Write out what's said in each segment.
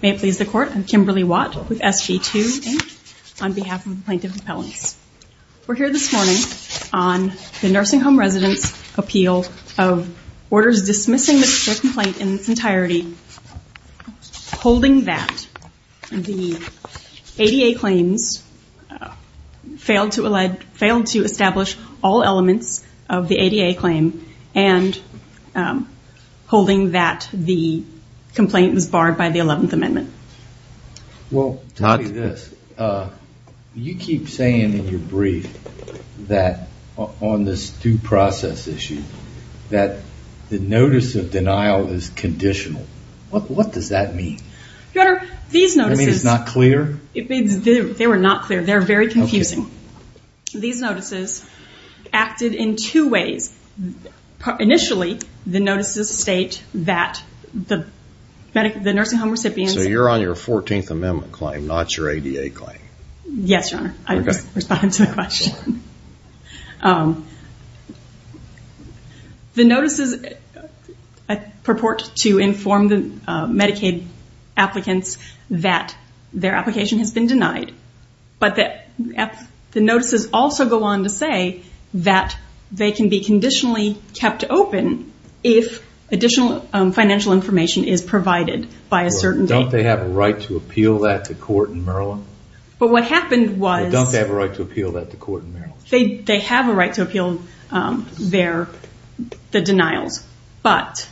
May it please the Court, I'm Kimberly Watt with SB2-H on behalf of the Plaintiff's Appellants. We're here this morning on the Nursing Home Residents' Appeal of Orders Dismissing the Stroke Complaint in its Entirety, holding that the ADA claims failed to establish all of the 11th Amendment. I'm going to start by saying that you keep saying in your brief that on this due process issue that the notice of denial is conditional. What does that mean? Your Honor, these notices- Does that mean it's not clear? They were not clear. They're very confusing. These notices acted in two ways. Initially, the notices state that the Nursing Home recipients- So you're on your 14th Amendment claim, not your ADA claim? Yes, Your Honor. I just responded to the question. The notices purport to inform the Medicaid applicants that their application has been The notices also go on to say that they can be conditionally kept open if additional financial information is provided by a certain date. Don't they have a right to appeal that to court in Maryland? What happened was- Don't they have a right to appeal that to court in Maryland? They have a right to appeal the denials, but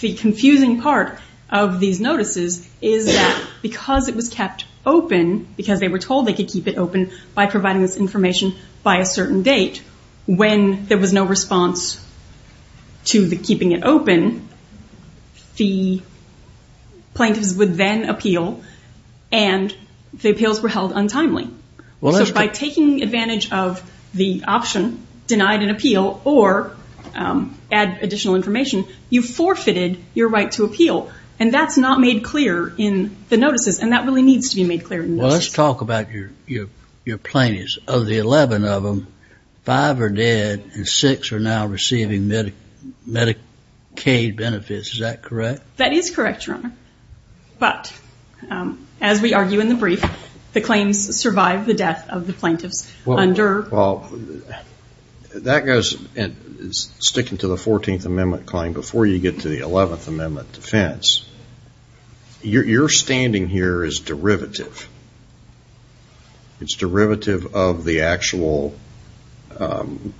the confusing part of these notices is that it was kept open because they were told they could keep it open by providing this information by a certain date. When there was no response to the keeping it open, the plaintiffs would then appeal and the appeals were held untimely. By taking advantage of the option, denied an appeal, or add additional information, you forfeited your right to appeal. That's not made clear in the notices and that really needs to be made clear in the notices. Well, let's talk about your plaintiffs. Of the 11 of them, 5 are dead and 6 are now receiving Medicaid benefits, is that correct? That is correct, Your Honor, but as we argue in the brief, the claims survive the death of the plaintiffs under- That goes, sticking to the 14th Amendment claim, before you get to the 11th Amendment defense, your standing here is derivative. It's derivative of the actual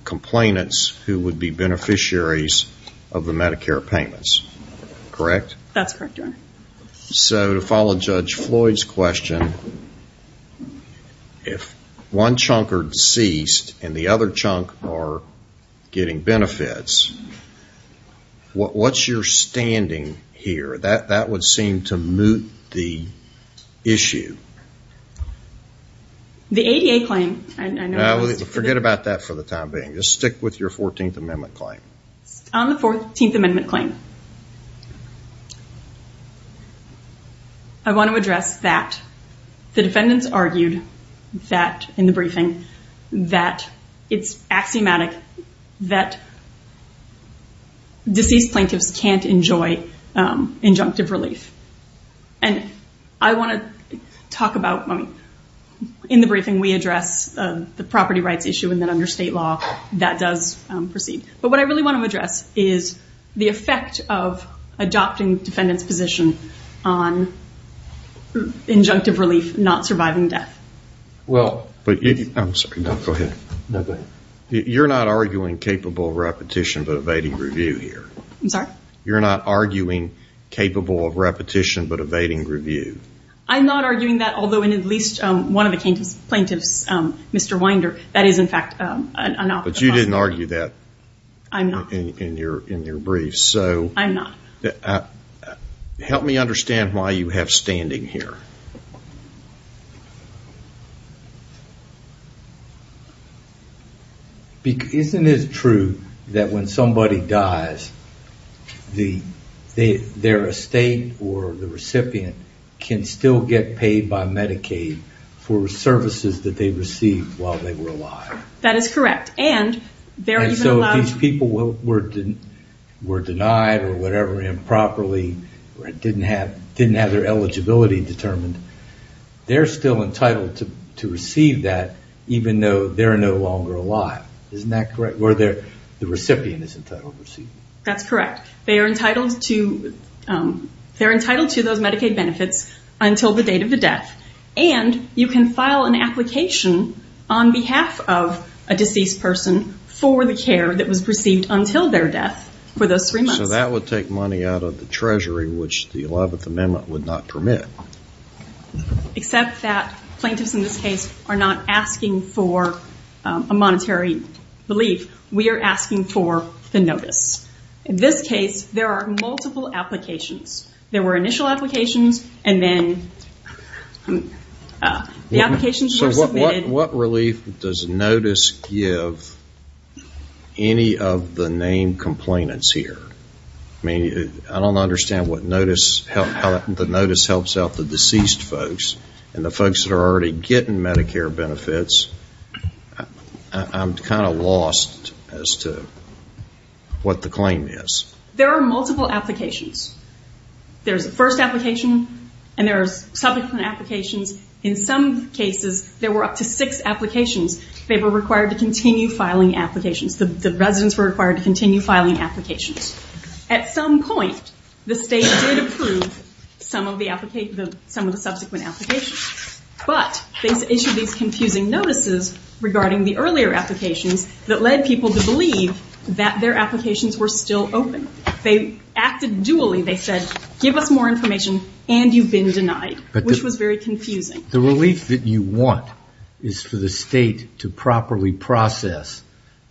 complainants who would be beneficiaries of the Medicare payments, correct? That's correct, Your Honor. So to follow Judge Floyd's question, if one chunk are deceased and the other chunk are getting benefits, what's your standing here? That would seem to moot the issue. The ADA claim, I know- Forget about that for the time being, just stick with your 14th Amendment claim. On the 14th Amendment claim, I want to address that the defendants argued that, in the briefing, that it's axiomatic that deceased plaintiffs can't enjoy injunctive relief. I want to talk about, in the briefing we address the property rights issue and then under state law that does proceed. But what I really want to address is the effect of adopting defendant's position on injunctive relief, not surviving death. Well- I'm sorry, go ahead. You're not arguing capable of repetition but evading review here. I'm sorry? You're not arguing capable of repetition but evading review. I'm not arguing that, although in at least one of the plaintiffs, Mr. Winder, that is in fact an option. But you didn't argue that- I'm not. In your brief. So- I'm not. Help me understand why you have standing here. Isn't it true that when somebody dies, their estate or the recipient can still get paid by Medicaid for services that they received while they were alive? That is correct. And they're even allowed- And so if these people were denied or whatever improperly, or didn't have their eligibility determined, they're still entitled to receive that even though they're no longer alive. Isn't that correct? Where the recipient is entitled to receive it. That's correct. They are entitled to those Medicaid benefits until the date of the death. And you can file an application on behalf of a deceased person for the care that was received until their death for those three months. So that would take money out of the treasury, which the 11th Amendment would not permit. Except that plaintiffs in this case are not asking for a monetary relief. We are asking for the notice. In this case, there are multiple applications. There were initial applications, and then the applications were submitted- What relief does notice give any of the named complainants here? I don't understand how the notice helps out the deceased folks and the folks that are already getting Medicare benefits. I'm kind of lost as to what the claim is. There are multiple applications. There's a first application, and there's subsequent applications. In some cases, there were up to six applications. They were required to continue filing applications. The residents were required to continue filing applications. At some point, the state did approve some of the subsequent applications, but they issued these confusing notices regarding the earlier applications that led people to believe that their applications were still open. They acted duly. They said, give us more information, and you've been denied, which was very confusing. The relief that you want is for the state to properly process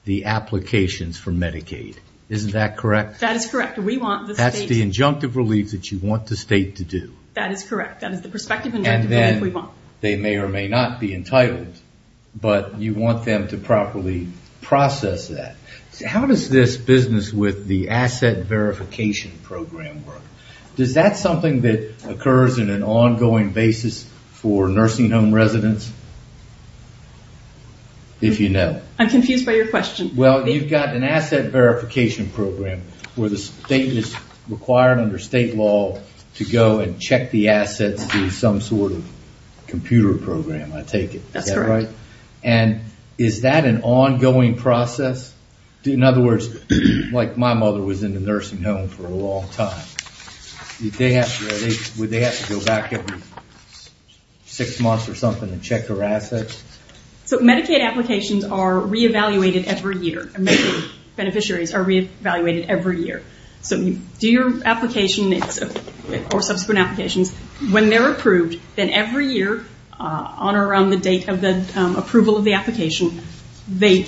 the applications for Medicaid. Isn't that correct? That is correct. We want the state- That's the injunctive relief that you want the state to do. That is correct. That is the prospective injunctive relief we want. And then they may or may not be entitled, but you want them to properly process that. How does this business with the asset verification program work? Does that something that occurs in an ongoing basis for nursing home residents, if you know? I'm confused by your question. Well, you've got an asset verification program where the state is required under state law to go and check the assets through some sort of computer program, I take it. That's correct. Is that right? In other words, like my mother was in the nursing home for a long time, would they have to go back every six months or something to check her assets? So Medicaid applications are re-evaluated every year. Medicaid beneficiaries are re-evaluated every year. So you do your application or subsequent applications. When they're approved, then every year on or around the date of the approval of the application, the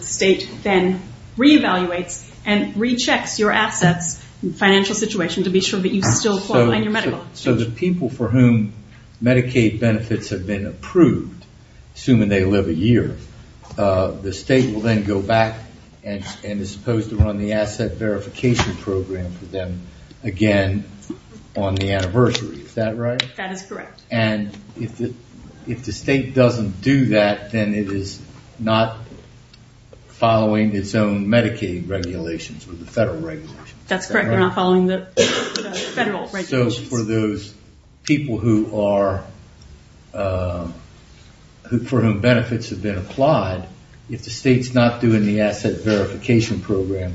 state then re-evaluates and re-checks your assets, financial situation, to be sure that you still fall on your medical. So the people for whom Medicaid benefits have been approved, assuming they live a year, the state will then go back and is supposed to run the asset verification program for them again on the anniversary. Is that right? That is correct. And if the state doesn't do that, then it is not following its own Medicaid regulations or the federal regulations. That's correct. They're not following the federal regulations. So for those people for whom benefits have been applied, if the state's not doing the asset verification program,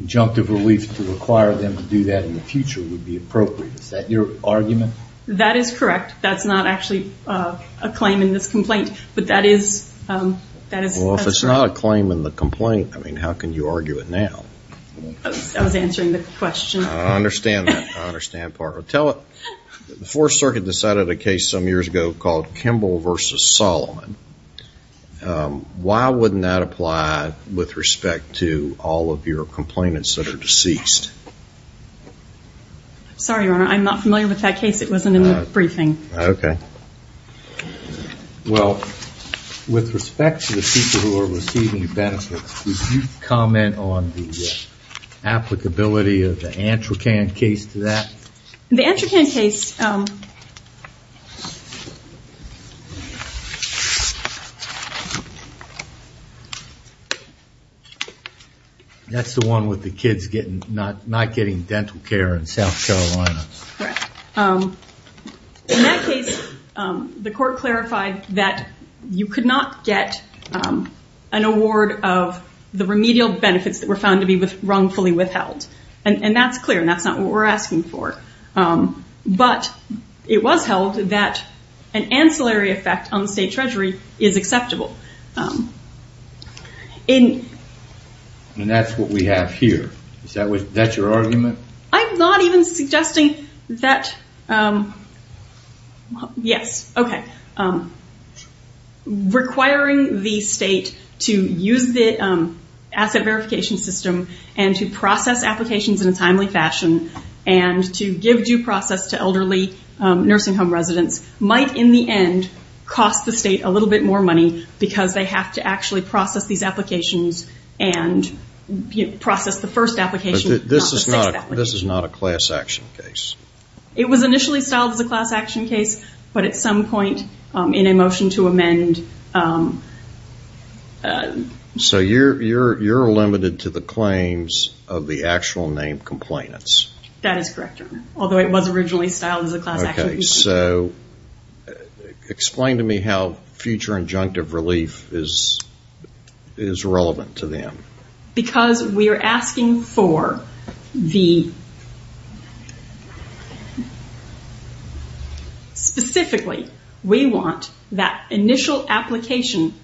injunctive relief to require them to do that in the future would be appropriate. Is that your argument? That is correct. That's not actually a claim in this complaint, but that is... Well, if it's not a claim in the complaint, I mean, how can you argue it now? I was answering the question. I understand that. I understand part of it. Tell it. The Fourth Circuit decided a case some years ago called Kimball v. Solomon. Why wouldn't that apply with respect to all of your complainants that are deceased? Sorry, Your Honor, I'm not familiar with that case. It wasn't in the briefing. Okay. Well, with respect to the people who are receiving benefits, would you comment on the applicability of the Antracan case to that? The Antracan case... That's the one with the kids not getting dental care in South Carolina. Correct. In that case, the court clarified that you could not get an award of the remedial benefits that were found to be wrongfully withheld, and that's clear, and that's not what we're asking for. But it was held that an ancillary effect on the state treasury is acceptable. And that's what we have here. Is that your argument? I'm not even suggesting that... Yes. Okay. Requiring the state to use the asset verification system and to process applications in a timely fashion, and to give due process to elderly nursing home residents might, in the end, cost the state a little bit more money because they have to actually process these applications and process the first application. This is not a class action case. It was initially styled as a class action case, but at some point, in a motion to amend... So you're limited to the claims of the actual named complainants. That is correct, Your Honor, although it was originally styled as a class action complaint. Okay, so explain to me how future injunctive relief is relevant to them. Because we are asking for the... Specifically, we want that initial application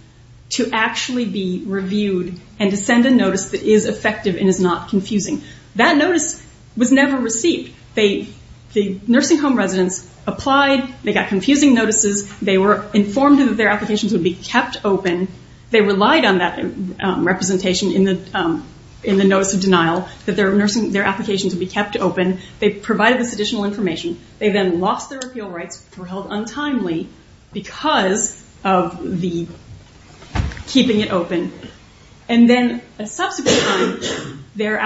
to actually be reviewed and to send a notice that is effective and is not confusing. That notice was never received. The nursing home residents applied. They got confusing notices. They were informed that their applications would be kept open. They relied on that representation in the notice of denial, that their applications would be kept open. They provided this additional information. They then lost their appeal rights, which were held untimely because of keeping it open. And then a subsequent time, their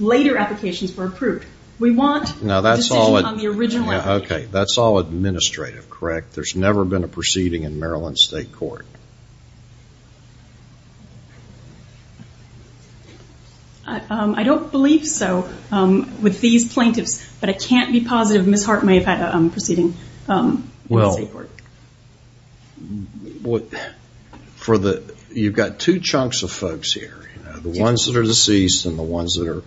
later applications were approved. We want a decision on the original application. That's all administrative, correct? There's never been a proceeding in Maryland State Court. I don't believe so with these plaintiffs. But I can't be positive Ms. Hart may have had a proceeding in the state court. You've got two chunks of folks here. The ones that are deceased and the ones that are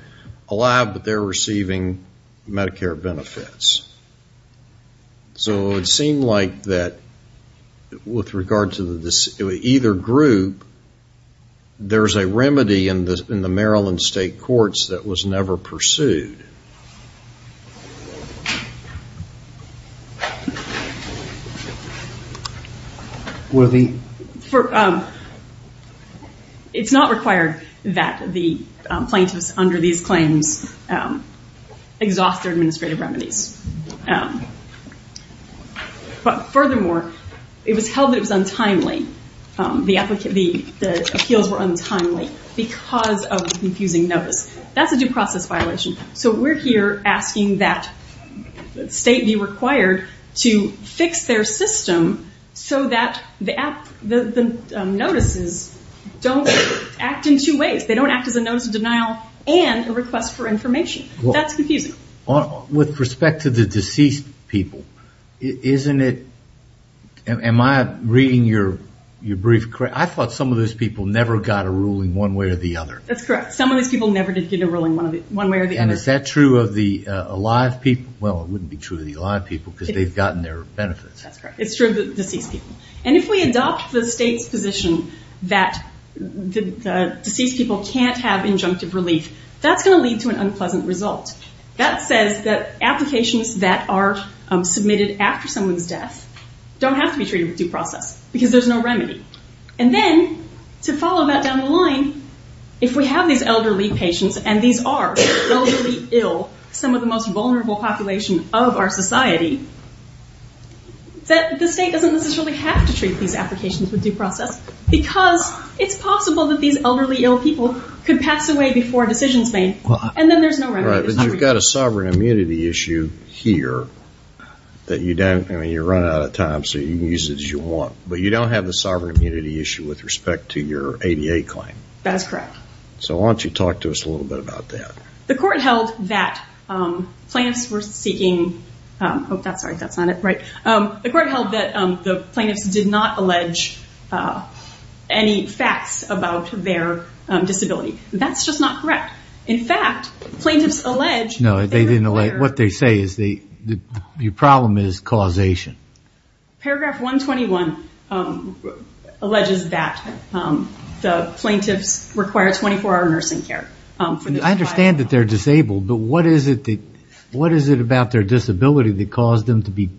alive, but they're receiving Medicare benefits. So it would seem like that with regard to either group, there's a remedy in the Maryland State Courts that was never pursued. It's not required that the plaintiffs under these claims exhaust their administrative remedies. But furthermore, it was held that it was untimely. The appeals were untimely because of the confusing notice. That's a due process violation. So we're here asking that the state be required to fix their system so that the notices don't act in two ways. They don't act as a notice of denial and a request for information. That's confusing. With respect to the deceased people, am I reading your brief correct? I thought some of those people never got a ruling one way or the other. That's correct. Some of those people never did get a ruling one way or the other. And is that true of the alive people? Well, it wouldn't be true of the alive people because they've gotten their benefits. That's correct. It's true of the deceased people. And if we adopt the state's position that deceased people can't have injunctive relief, that's going to lead to an unpleasant result. That says that applications that are submitted after someone's death don't have to be treated with due process because there's no remedy. And then, to follow that down the line, if we have these elderly patients, and these are elderly ill, some of the most vulnerable population of our society, that the state doesn't necessarily have to treat these applications with due process because it's possible that these elderly ill people could pass away before decisions made and then there's no remedy. Right. But you've got a sovereign immunity issue here that you don't... I mean, you're running out of time so you can use it as you want. But you don't have the sovereign immunity issue with respect to your ADA claim. That is correct. So why don't you talk to us a little bit about that? The court held that plaintiffs were seeking... Oh, that's right. That's not it. Right. The court held that the plaintiffs did not allege any facts about their disability. That's just not correct. In fact, plaintiffs allege... No, they didn't allege. What they say is the problem is causation. Paragraph 121 alleges that the plaintiffs require 24-hour nursing care. I understand that they're disabled, but what is it about their disability that caused them to be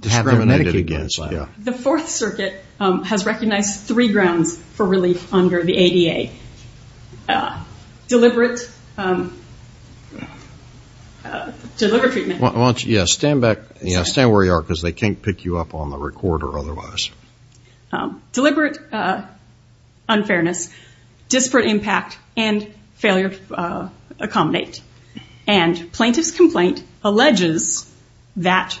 discriminated against? The Fourth Circuit has recognized three grounds for relief under the ADA. Deliberate... Deliberate treatment. Yeah, stand where you are because they can't pick you up on the recorder otherwise. Deliberate unfairness, disparate impact, and failure to accommodate. And plaintiff's complaint alleges that...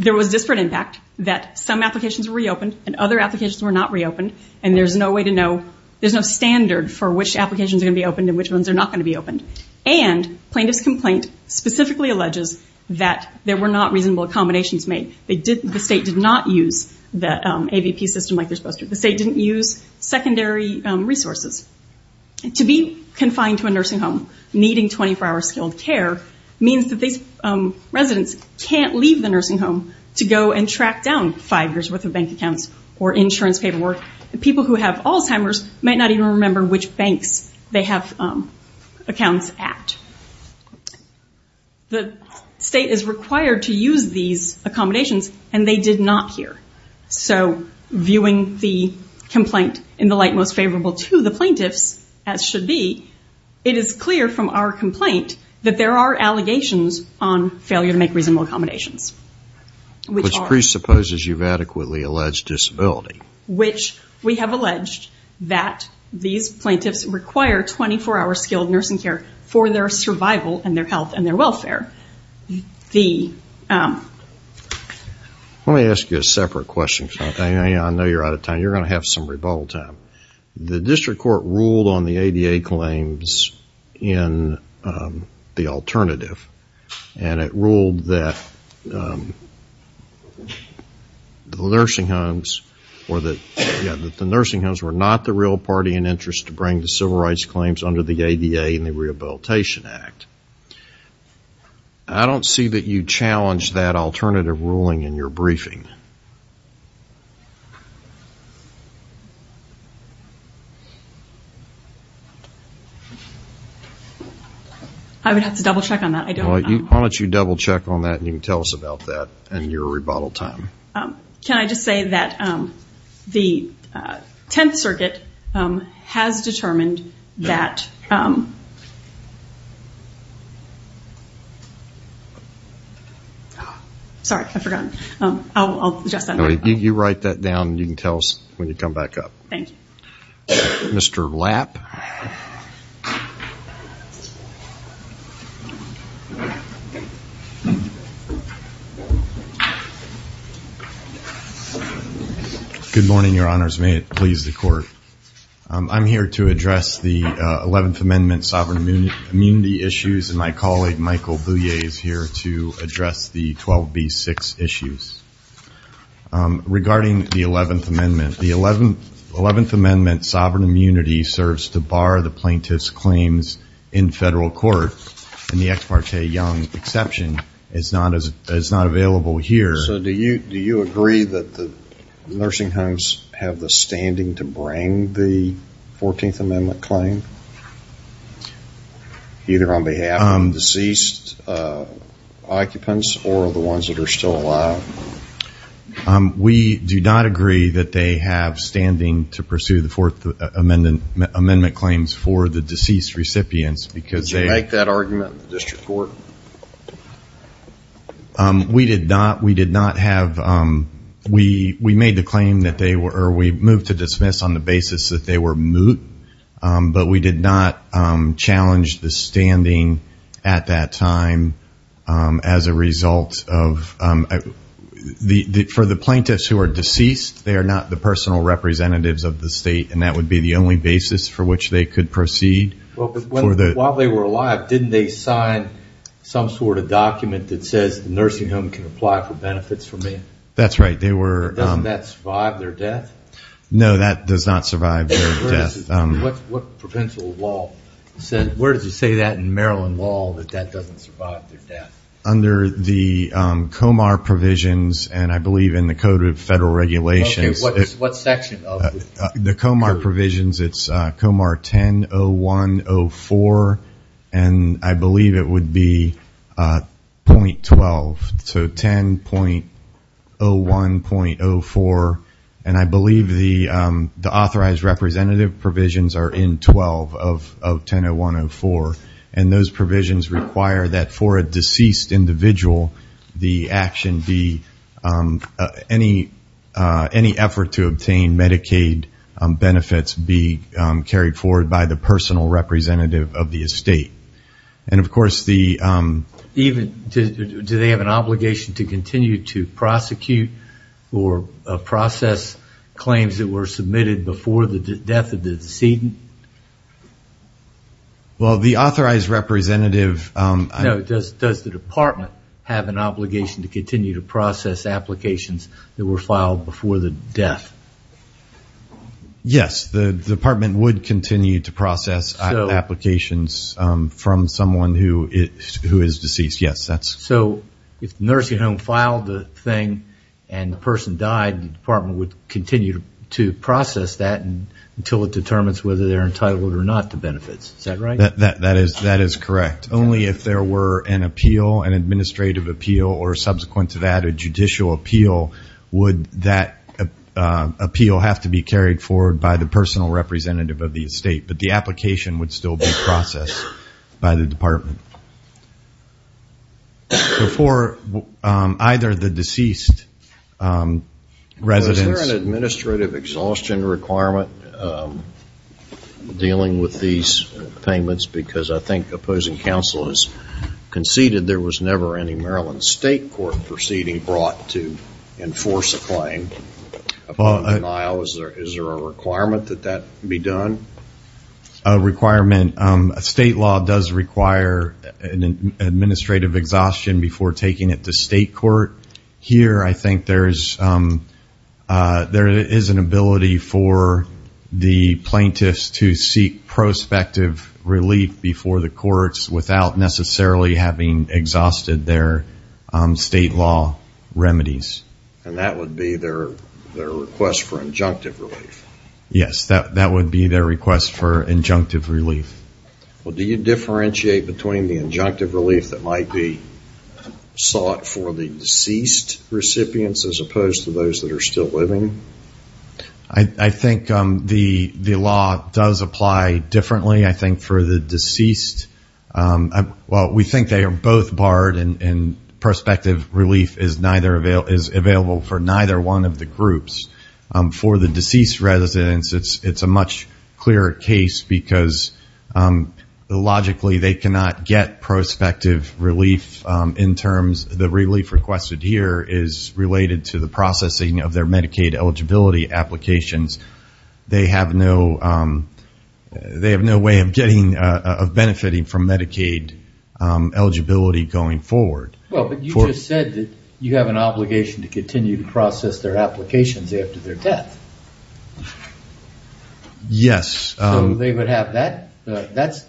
There was disparate impact, that some applications were reopened and other applications were not reopened, and there's no way to know... There's no standard for which applications are going to be opened and which ones are not going to be opened. And plaintiff's complaint specifically alleges that there were not reasonable accommodations made. The state did not use the AVP system like they're supposed to. The state didn't use secondary resources. To be confined to a nursing home needing 24-hour skilled care means that these residents can't leave the nursing home to go and track down five years' worth of bank accounts or insurance paperwork. People who have Alzheimer's might not even remember which banks they have accounts at. The state is required to use these accommodations, and they did not here. So, viewing the complaint in the light most favorable to the plaintiffs, as should be, it is clear from our complaint that there are allegations on failure to make reasonable accommodations. Which presupposes you've adequately alleged disability. Which we have alleged that these plaintiffs require 24-hour skilled nursing care Let me ask you a separate question. I know you're out of time. You're going to have some rebuttal time. The district court ruled on the ADA claims in the alternative. And it ruled that the nursing homes were not the real party in interest to bring the civil rights claims under the ADA and the Rehabilitation Act. I don't see that you challenged that alternative ruling in your briefing. I would have to double check on that. Why don't you double check on that and you can tell us about that and your rebuttal time. Can I just say that the Tenth Circuit has determined that Sorry, I forgot. I'll adjust that. You write that down and you can tell us when you come back up. Thank you. Mr. Lapp. Good morning, your honors. May it please the court. I'm here to address the 11th Amendment sovereign immunity issues. And my colleague, Michael Bouye, is here to address the 12B6 issues. Regarding the 11th Amendment, the 11th Amendment sovereign immunity serves to bar the plaintiff's claims in federal court. In the Ex Parte Young exception, it's not available here. So do you agree that the nursing homes have the standing to bring the 14th Amendment claim? Either on behalf of deceased occupants or the ones that are still alive? We do not agree that they have standing to pursue the 4th Amendment claims for the deceased recipients. Did you make that argument in the district court? We did not. We made the claim or we moved to dismiss on the basis that they were moot. But we did not challenge the standing at that time as a result of For the plaintiffs who are deceased, they are not the personal representatives of the state. And that would be the only basis for which they could proceed. While they were alive, didn't they sign some sort of document that says the nursing home can apply for benefits from me? That's right. Doesn't that survive their death? No, that does not survive their death. What provincial law says, where does it say that in Maryland law that that doesn't survive their death? Under the Comar provisions and I believe in the Code of Federal Regulations. What section? The Comar provisions, it's Comar 10.01.04 and I believe it would be .12, so 10.01.04. And I believe the authorized representative provisions are in 12 of 10.01.04. And those provisions require that for a deceased individual, the action be, any effort to obtain Medicaid benefits be carried forward by the personal representative of the estate. And of course, the Even, do they have an obligation to continue to prosecute or process claims that were submitted before the death of the decedent? Well, the authorized representative No, does the department have an obligation to continue to process applications that were filed before the death? Yes, the department would continue to process applications from someone who is deceased, yes. So, if the nursing home filed the thing and the person died, the department would continue to process that until it determines whether they're entitled or not to benefits. Is that right? That is correct. Only if there were an appeal, an administrative appeal or subsequent to that, a judicial appeal, would that appeal have to be carried forward by the personal representative of the estate. But the application would still be processed by the department. Before either the deceased residents Was there an administrative exhaustion requirement dealing with these payments? Because I think opposing counsel has conceded there was never any Maryland state court proceeding brought to enforce a claim upon denial. Is there a requirement that that be done? A requirement, a state law does require an administrative exhaustion before taking it to state court. Here, I think there is an ability for the plaintiffs to seek prospective relief before the courts without necessarily having exhausted their state law remedies. And that would be their request for injunctive relief? Yes, that would be their request for injunctive relief. Do you differentiate between the injunctive relief that might be sought for the deceased recipients as opposed to those that are still living? I think the law does apply differently. I think for the deceased, well, we think they are both barred and prospective relief is available for neither one of the groups. For the deceased residents, it's a much clearer case because logically they cannot get prospective relief in terms of the relief requested here is related to the processing of their Medicaid eligibility applications. They have no way of benefiting from Medicaid eligibility going forward. Well, but you just said that you have an obligation to continue to process their applications after their death. Yes. So they would have that.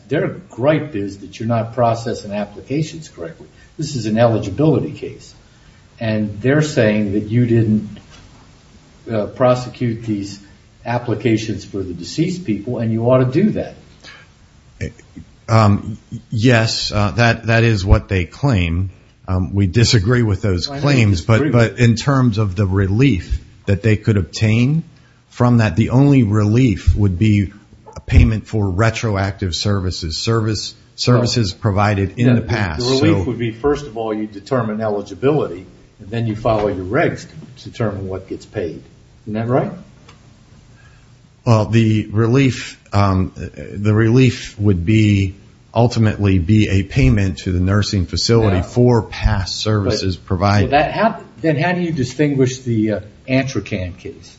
Their gripe is that you're not processing applications correctly. This is an eligibility case. And they're saying that you didn't prosecute these applications for the deceased people and you ought to do that. Yes, that is what they claim. We disagree with those claims, but in terms of the relief that they could obtain from that, the only relief would be payment for retroactive services, services provided in the past. The relief would be, first of all, you determine eligibility and then you follow your regs to determine what gets paid. Isn't that right? Well, the relief would ultimately be a payment to the nursing facility for past services provided. Then how do you distinguish the Antracan case?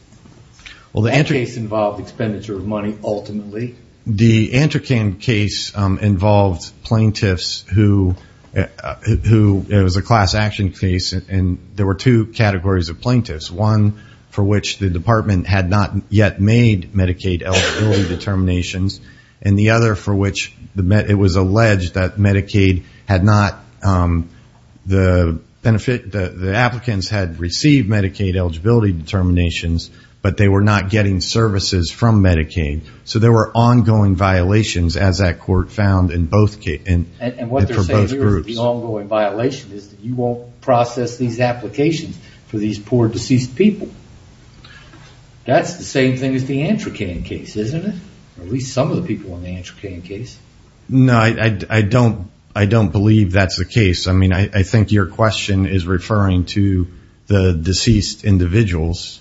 That case involved expenditure of money ultimately. The Antracan case involved plaintiffs who, it was a class action case, and there were two categories of plaintiffs, one for which the department had not yet made Medicaid eligibility determinations and the other for which it was alleged that Medicaid had not, the applicants had received Medicaid eligibility determinations, but they were not getting services from Medicaid. So there were ongoing violations as that court found for both groups. And what they're saying here is the ongoing violation is that you won't process these applications for these poor deceased people. That's the same thing as the Antracan case, isn't it? At least some of the people in the Antracan case. No, I don't believe that's the case. I mean, I think your question is referring to the deceased individuals,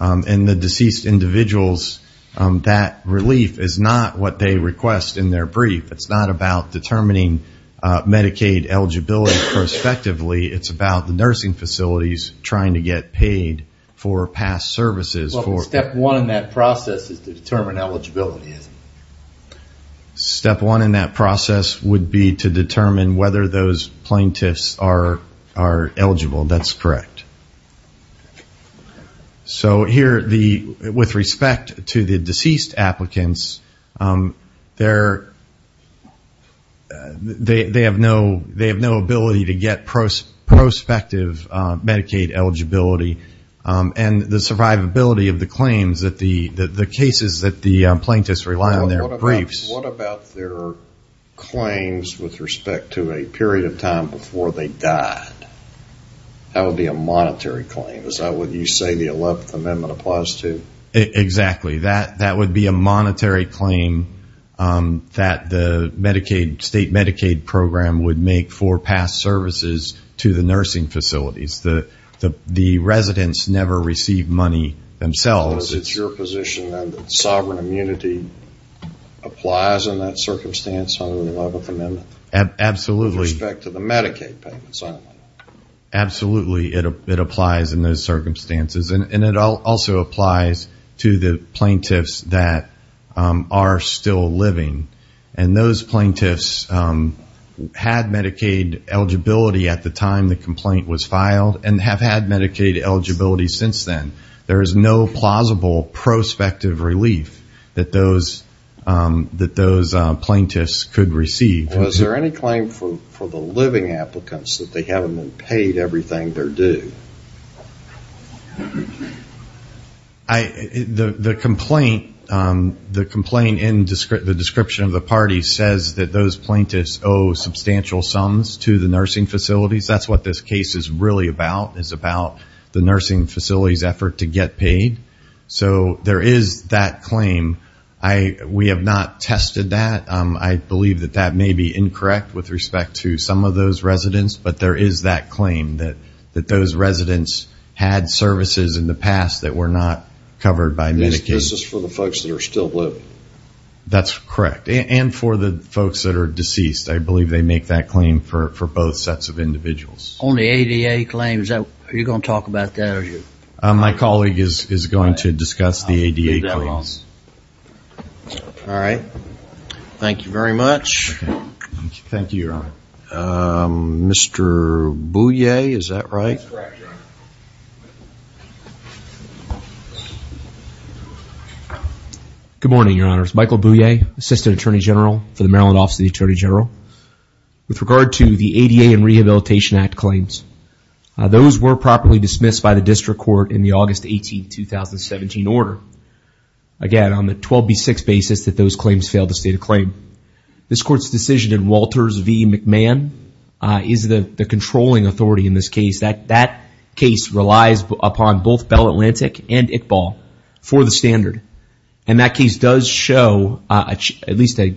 and the deceased individuals, that relief is not what they request in their brief. It's not about determining Medicaid eligibility prospectively. It's about the nursing facilities trying to get paid for past services. Well, step one in that process is to determine eligibility, isn't it? Step one in that process would be to determine whether those plaintiffs are eligible. That's correct. So here, with respect to the deceased applicants, they have no ability to get prospective Medicaid eligibility, and the survivability of the claims that the cases that the plaintiffs rely on in their briefs. What about their claims with respect to a period of time before they died? That would be a monetary claim. Is that what you say the 11th Amendment applies to? Exactly. That would be a monetary claim that the Medicaid, state Medicaid program, would make for past services to the nursing facilities. The residents never receive money themselves. So it's your position then that sovereign immunity applies in that circumstance under the 11th Amendment? Absolutely. With respect to the Medicaid payments only? Absolutely, it applies in those circumstances, and it also applies to the plaintiffs that are still living. And those plaintiffs had Medicaid eligibility at the time the complaint was filed and have had Medicaid eligibility since then. There is no plausible prospective relief that those plaintiffs could receive. Was there any claim for the living applicants that they haven't been paid everything they're due? The complaint in the description of the parties says that those plaintiffs owe substantial sums to the nursing facilities. That's what this case is really about, is about the nursing facility's effort to get paid. So there is that claim. We have not tested that. I believe that that may be incorrect with respect to some of those residents, but there is that claim that those residents had services in the past that were not covered by Medicaid. This is for the folks that are still living? That's correct, and for the folks that are deceased. I believe they make that claim for both sets of individuals. On the ADA claims, are you going to talk about that? My colleague is going to discuss the ADA claims. I'll leave that alone. All right. Thank you very much. Thank you, Your Honor. Mr. Bouye, is that right? That's correct, Your Honor. Good morning, Your Honors. Michael Bouye, Assistant Attorney General for the Maryland Office of the Attorney General. With regard to the ADA and Rehabilitation Act claims, those were properly dismissed by the district court in the August 18, 2017 order. Again, on the 12B6 basis that those claims failed to state a claim. This court's decision in Walters v. McMahon is the controlling authority in this case. That case relies upon both Bell Atlantic and Iqbal for the standard, and that case does show at least a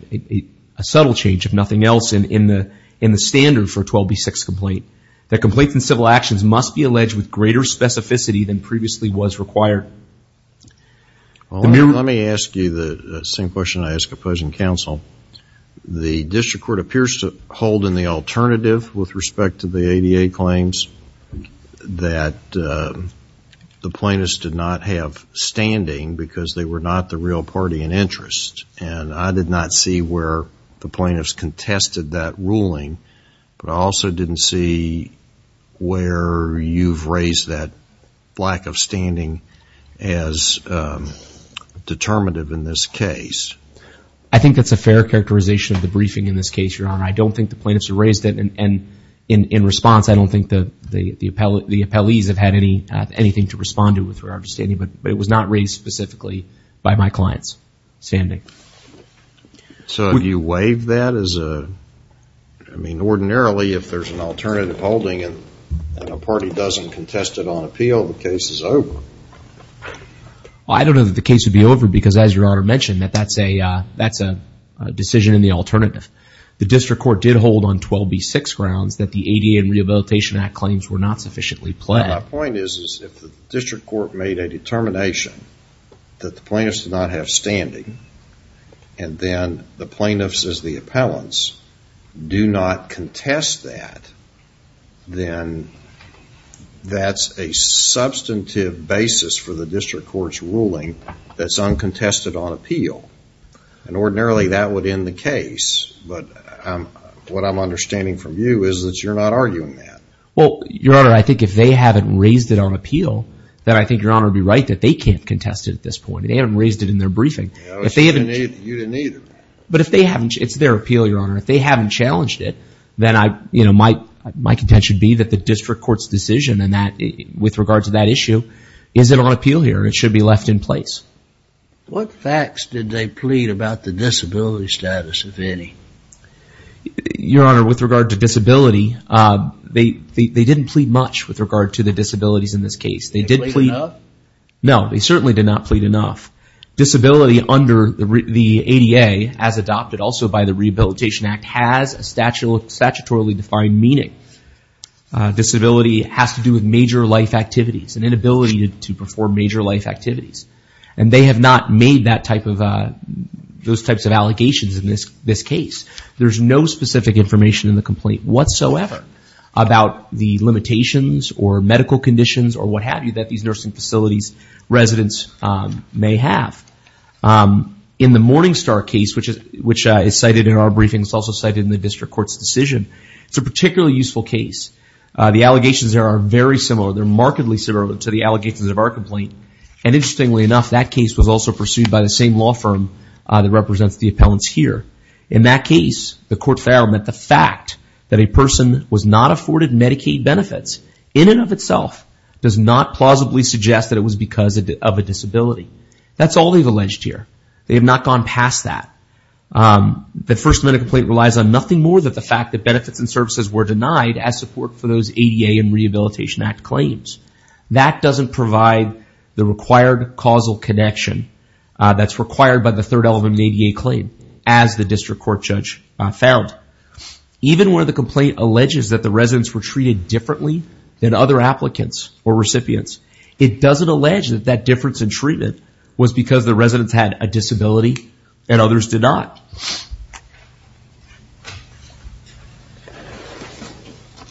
subtle change, if nothing else, in the standard for 12B6 complaint. The complaints and civil actions must be alleged with greater specificity than previously was required. Let me ask you the same question I ask opposing counsel. The district court appears to hold in the alternative with respect to the ADA claims that the plaintiffs did not have standing because they were not the real party in interest, and I did not see where the plaintiffs contested that ruling, but I also didn't see where you've raised that lack of standing as determinative in this case. I think that's a fair characterization of the briefing in this case, Your Honor. I don't think the plaintiffs raised it, and in response, I don't think the appellees have had anything to respond to with regard to standing, but it was not raised specifically by my client's standing. So do you waive that as a, I mean, ordinarily, if there's an alternative holding and a party doesn't contest it on appeal, the case is over. I don't know that the case would be over because, as Your Honor mentioned, that's a decision in the alternative. The district court did hold on 12B6 grounds that the ADA and Rehabilitation Act claims were not sufficiently pled. My point is if the district court made a determination that the plaintiffs did not have standing and then the plaintiffs as the appellants do not contest that, then that's a substantive basis for the district court's ruling that's uncontested on appeal, and ordinarily, that would end the case, but what I'm understanding from you is that you're not arguing that. Well, Your Honor, I think if they haven't raised it on appeal, then I think Your Honor would be right that they can't contest it at this point. They haven't raised it in their briefing. You didn't either. But if they haven't, it's their appeal, Your Honor. If they haven't challenged it, then I, you know, my contention would be that the district court's decision with regard to that issue isn't on appeal here. It should be left in place. What facts did they plead about the disability status, if any? Your Honor, with regard to disability, they didn't plead much with regard to the disabilities in this case. Did they plead enough? No, they certainly did not plead enough. Disability under the ADA, as adopted also by the Rehabilitation Act, has a statutorily defined meaning. Disability has to do with major life activities, an inability to perform major life activities, and they have not made those types of allegations in this case. There's no specific information in the complaint whatsoever about the limitations or medical conditions or what have you that these nursing facilities residents may have. In the Morningstar case, which is cited in our briefing, it's also cited in the district court's decision, it's a particularly useful case. The allegations there are very similar. They're markedly similar to the allegations of our complaint. Interestingly enough, that case was also pursued by the same law firm that represents the appellants here. In that case, the court found that the fact that a person was not afforded Medicaid benefits in and of itself does not plausibly suggest that it was because of a disability. That's all they've alleged here. They have not gone past that. The First Amendment complaint relies on nothing more than the fact that benefits and services were denied as support for those ADA and Rehabilitation Act claims. That doesn't provide the required causal connection that's required by the Third Element ADA claim, as the district court judge found. Even where the complaint alleges that the residents were treated differently than other applicants or recipients, it doesn't allege that that difference in treatment was because the residents had a disability and others did not.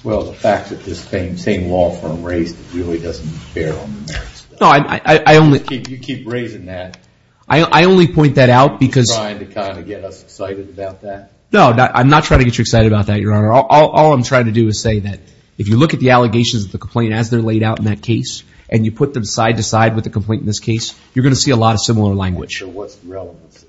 Well, the fact that this same law firm raised it really doesn't bear on the merits. No, I only... You keep raising that. I only point that out because... Are you trying to kind of get us excited about that? No, I'm not trying to get you excited about that, Your Honor. All I'm trying to do is say that if you look at the allegations of the complaint as they're laid out in that case, and you put them side to side with the complaint in this case, you're going to see a lot of similar language. So what's the relevance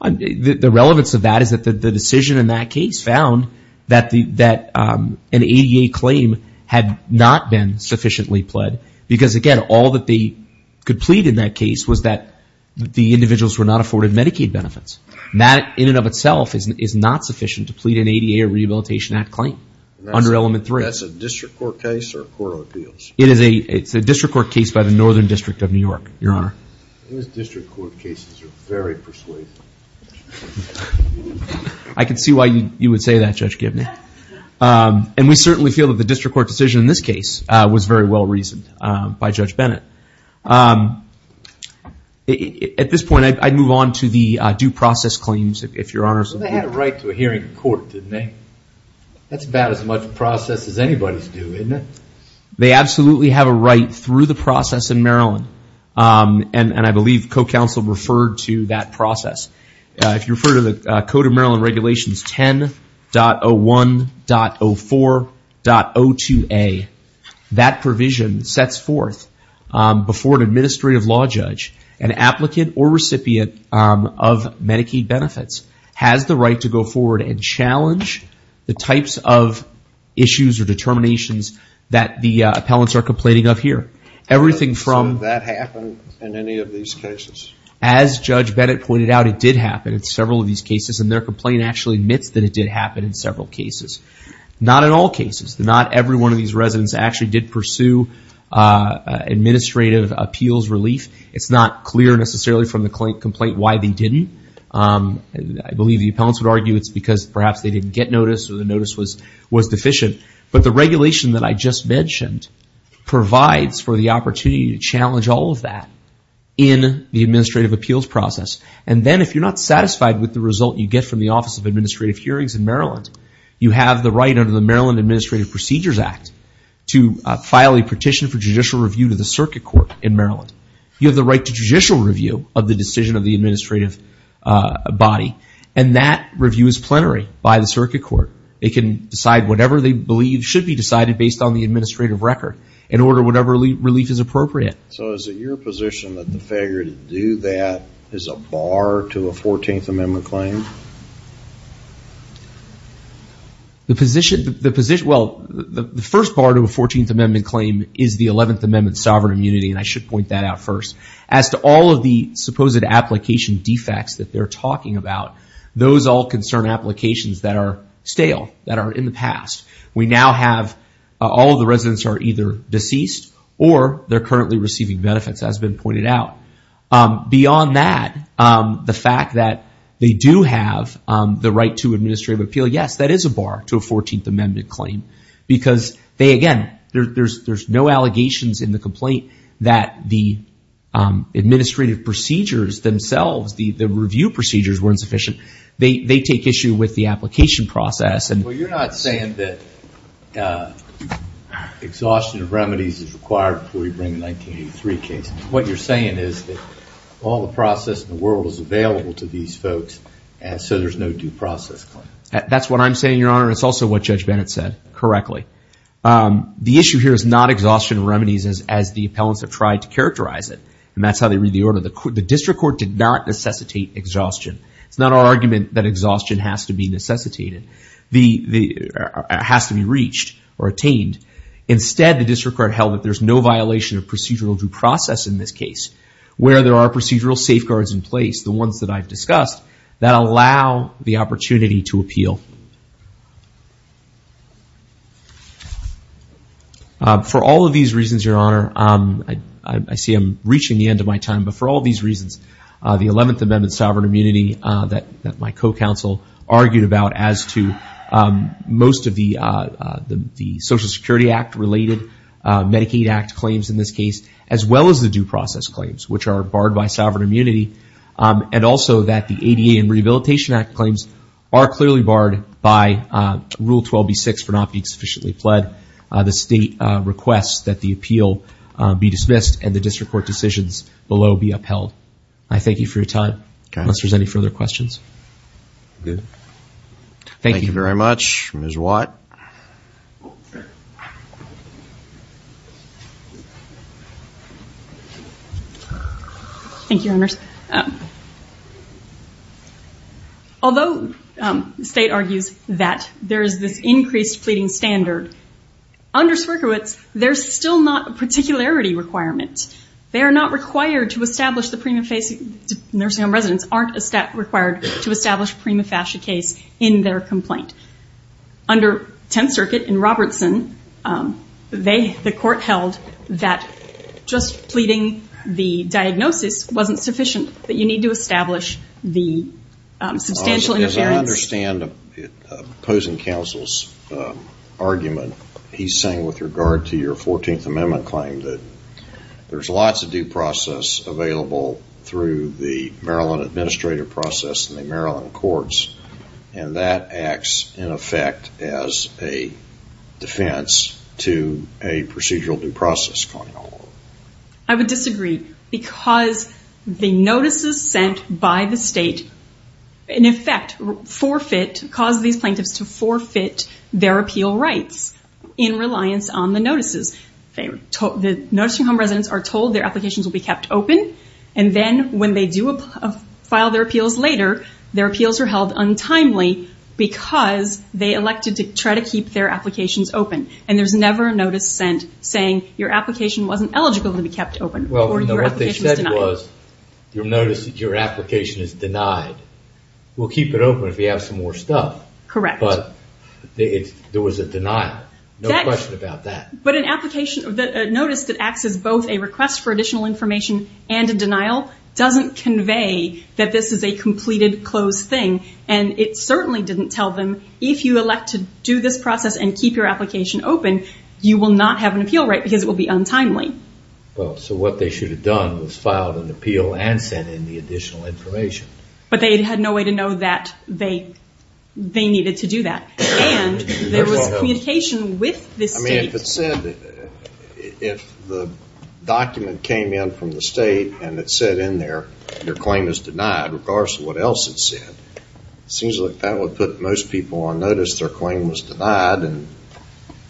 of that? The relevance of that is that the decision in that case found that an ADA claim had not been sufficiently pled, because again, all that they could plead in that case was that the individuals were not afforded Medicaid benefits. That in and of itself is not sufficient to plead an ADA or Rehabilitation Act claim under Element 3. That's a district court case or a court of appeals? It's a district court case by the Northern District of New York, Your Honor. Those district court cases are very persuasive. I can see why you would say that, Judge Gibney. And we certainly feel that the district court decision in this case was very well reasoned by Judge Bennett. At this point, I'd move on to the due process claims, if Your Honor... They had a right to a hearing in court, didn't they? That's about as much process as anybody's due, isn't it? They absolutely have a right through the process in Maryland, and I believe co-counsel referred to that process. If you refer to the Code of Maryland Regulations 10.01.04.02a, that provision sets forth before an administrative law judge, an applicant or recipient of Medicaid benefits, has the right to go forward and challenge the types of issues or determinations that the appellants are complaining of here. Has that happened in any of these cases? As Judge Bennett pointed out, it did happen in several of these cases, and their complaint actually admits that it did happen in several cases. Not in all cases. Not every one of these residents actually did pursue administrative appeals relief. It's not clear necessarily from the complaint why they didn't. I believe the appellants would argue it's because perhaps they didn't get notice or the notice was deficient. But the regulation that I just mentioned provides for the opportunity to challenge all of that in the administrative appeals process. Then if you're not satisfied with the result you get from the Office of Administrative Hearings in Maryland, you have the right under the Maryland Administrative Procedures Act to file a petition for judicial review to the circuit court in Maryland. You have the right to judicial review of the decision of the administrative body, and that review is plenary by the circuit court. They can decide whatever they believe should be decided based on the administrative record and order whatever relief is appropriate. So is it your position that the failure to do that is a bar to a 14th Amendment claim? The first bar to a 14th Amendment claim is the 11th Amendment sovereign immunity, and I should point that out first. As to all of the supposed application defects that they're talking about, those all concern applications that are stale, that are in the past. We now have all of the residents are either deceased or they're currently receiving benefits, as has been pointed out. Beyond that, the fact that they do have the right to administrative appeal, yes, that is a bar to a 14th Amendment claim. Again, there's no allegations in the complaint that the administrative procedures themselves, the review procedures weren't sufficient. They take issue with the application process. Well, you're not saying that exhaustion of remedies is required before you bring the 1983 case. What you're saying is that all the process in the world is available to these folks, so there's no due process claim. That's what I'm saying, Your Honor. It's also what Judge Bennett said correctly. The issue here is not exhaustion of remedies as the appellants have tried to characterize it, and that's how they read the order. The district court did not necessitate exhaustion. It's not our argument that exhaustion has to be necessitated. It has to be reached or attained. Instead, the district court held that there's no violation of procedural due process in this case where there are procedural safeguards in place, the ones that I've discussed, that allow the opportunity to appeal. For all of these reasons, Your Honor, I see I'm reaching the end of my time, but for all these reasons, the 11th Amendment sovereign immunity that my co-counsel argued about as to most of the Social Security Act-related Medicaid Act claims in this case, as well as the due process claims, which are barred by sovereign immunity, and also that the ADA and Rehabilitation Act claims are clearly barred by Rule 12B6 for not being sufficiently pled. The state requests that the appeal be dismissed and the district court decisions below be upheld. I thank you for your time, unless there's any further questions. Thank you very much, Ms. Watt. Thank you, Your Honors. Although the state argues that there is this increased pleading standard, under Swierkiewicz, there's still not a particularity requirement. They are not required to establish the prima facie nursing home residence, aren't required to establish prima facie case in their complaint. Under Tenth Circuit in Robertson, the court held that just pleading the diagnosis wasn't sufficient, that you need to establish the substantial interference. As I understand opposing counsel's argument, he's saying with regard to your Fourteenth Amendment claim that there's lots of due process available through the Maryland administrative process and the Maryland courts, and that acts in effect as a defense to a procedural due process claim. I would disagree, because the notices sent by the state, in effect, cause these plaintiffs to forfeit their appeal rights in reliance on the notices. The nursing home residents are told their applications will be kept open, and then when they do file their appeals later, their appeals are held untimely, because they elected to try to keep their applications open. There's never a notice sent saying, your application wasn't eligible to be kept open, or your application was denied. What they said was, you'll notice that your application is denied. We'll keep it open if you have some more stuff. Correct. But there was a denial. No question about that. But a notice that acts as both a request for additional information and a denial doesn't convey that this is a completed, closed thing. It certainly didn't tell them, if you elect to do this process and keep your application open, you will not have an appeal right, because it will be untimely. Well, so what they should have done was filed an appeal and sent in the additional information. But they had no way to know that they needed to do that. And there was communication with the state. I mean, if it said, if the document came in from the state and it said in there, your claim is denied, regardless of what else it said, it seems like that would put most people on notice their claim was denied and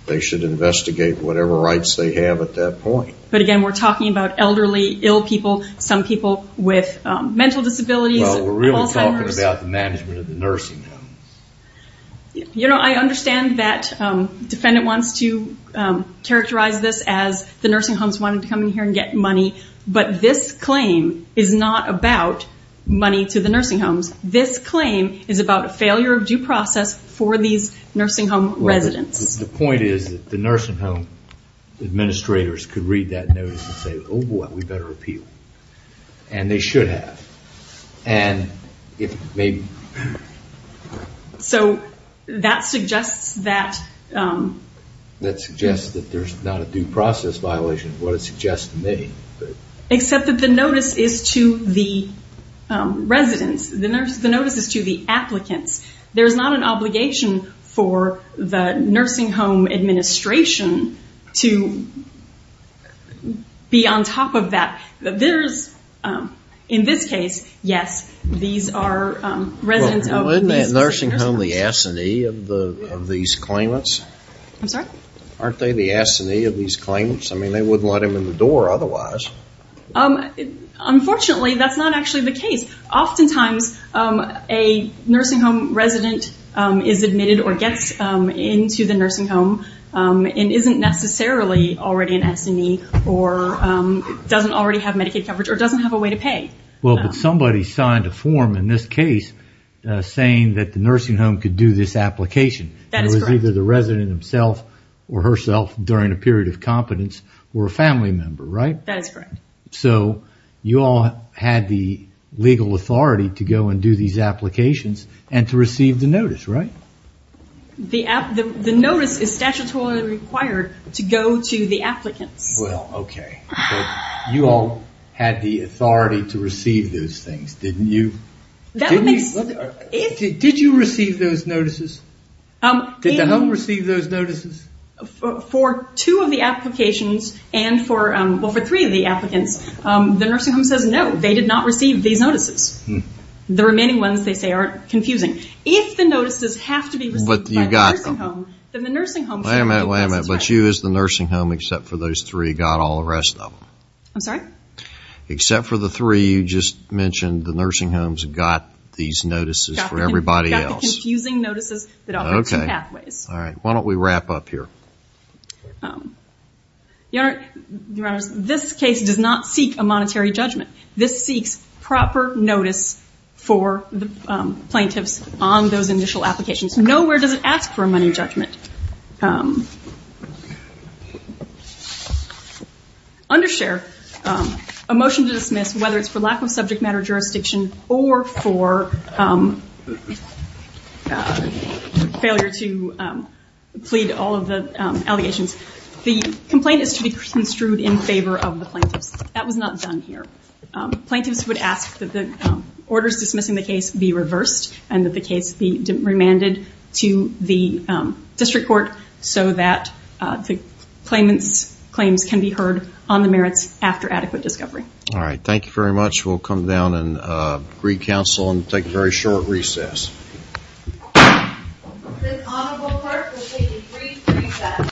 they should investigate whatever rights they have at that point. But again, we're talking about elderly, ill people, some people with mental disabilities, Alzheimer's. Well, we're really talking about the management of the nursing homes. You know, I understand that the defendant wants to characterize this as the nursing homes wanted to come in here and get money, but this claim is not about money to the nursing homes. This claim is about a failure of due process for these nursing home residents. The point is that the nursing home administrators could read that notice and say, oh, boy, we better appeal. And they should have. And if maybe... So that suggests that... That suggests that there's not a due process violation, what it suggests to me. Except that the notice is to the residents. The notice is to the applicants. There's not an obligation for the nursing home administration to be on top of that. There's, in this case, yes, these are residents of these nursing homes. Well, isn't that nursing home the assinee of these claimants? I'm sorry? Aren't they the assinee of these claimants? I mean, they wouldn't let him in the door otherwise. Unfortunately, that's not actually the case. Oftentimes a nursing home resident is admitted or gets into the nursing home and isn't necessarily already an assinee or doesn't already have Medicaid coverage or doesn't have a way to pay. Well, but somebody signed a form in this case saying that the nursing home could do this application. That is correct. The resident himself or herself during a period of competence were a family member, right? That is correct. So you all had the legal authority to go and do these applications and to receive the notice, right? The notice is statutorily required to go to the applicants. Well, okay. You all had the authority to receive those things, didn't you? Did you receive those notices? Did the home receive those notices? For two of the applications and for three of the applicants, the nursing home says no, they did not receive these notices. The remaining ones they say are confusing. If the notices have to be received by the nursing home, then the nursing home should be able to do this. Wait a minute, wait a minute. But you as the nursing home, except for those three, got all the rest of them? I'm sorry? Except for the three, you just mentioned the nursing homes got these notices for everybody else. They have confusing notices that offer two pathways. All right. Why don't we wrap up here? Your Honor, this case does not seek a monetary judgment. This seeks proper notice for the plaintiffs on those initial applications. Nowhere does it ask for a money judgment. Undershare, a motion to dismiss whether it's for lack of subject matter jurisdiction or for failure to plead all of the allegations. The complaint is to be construed in favor of the plaintiffs. That was not done here. Plaintiffs would ask that the orders dismissing the case be reversed and that the case be remanded to the district court so that the claimants' claims can be heard on the merits after adequate discovery. All right. Thank you very much. We'll come down and agree counsel and take a very short recess. This honorable court will take a brief recess.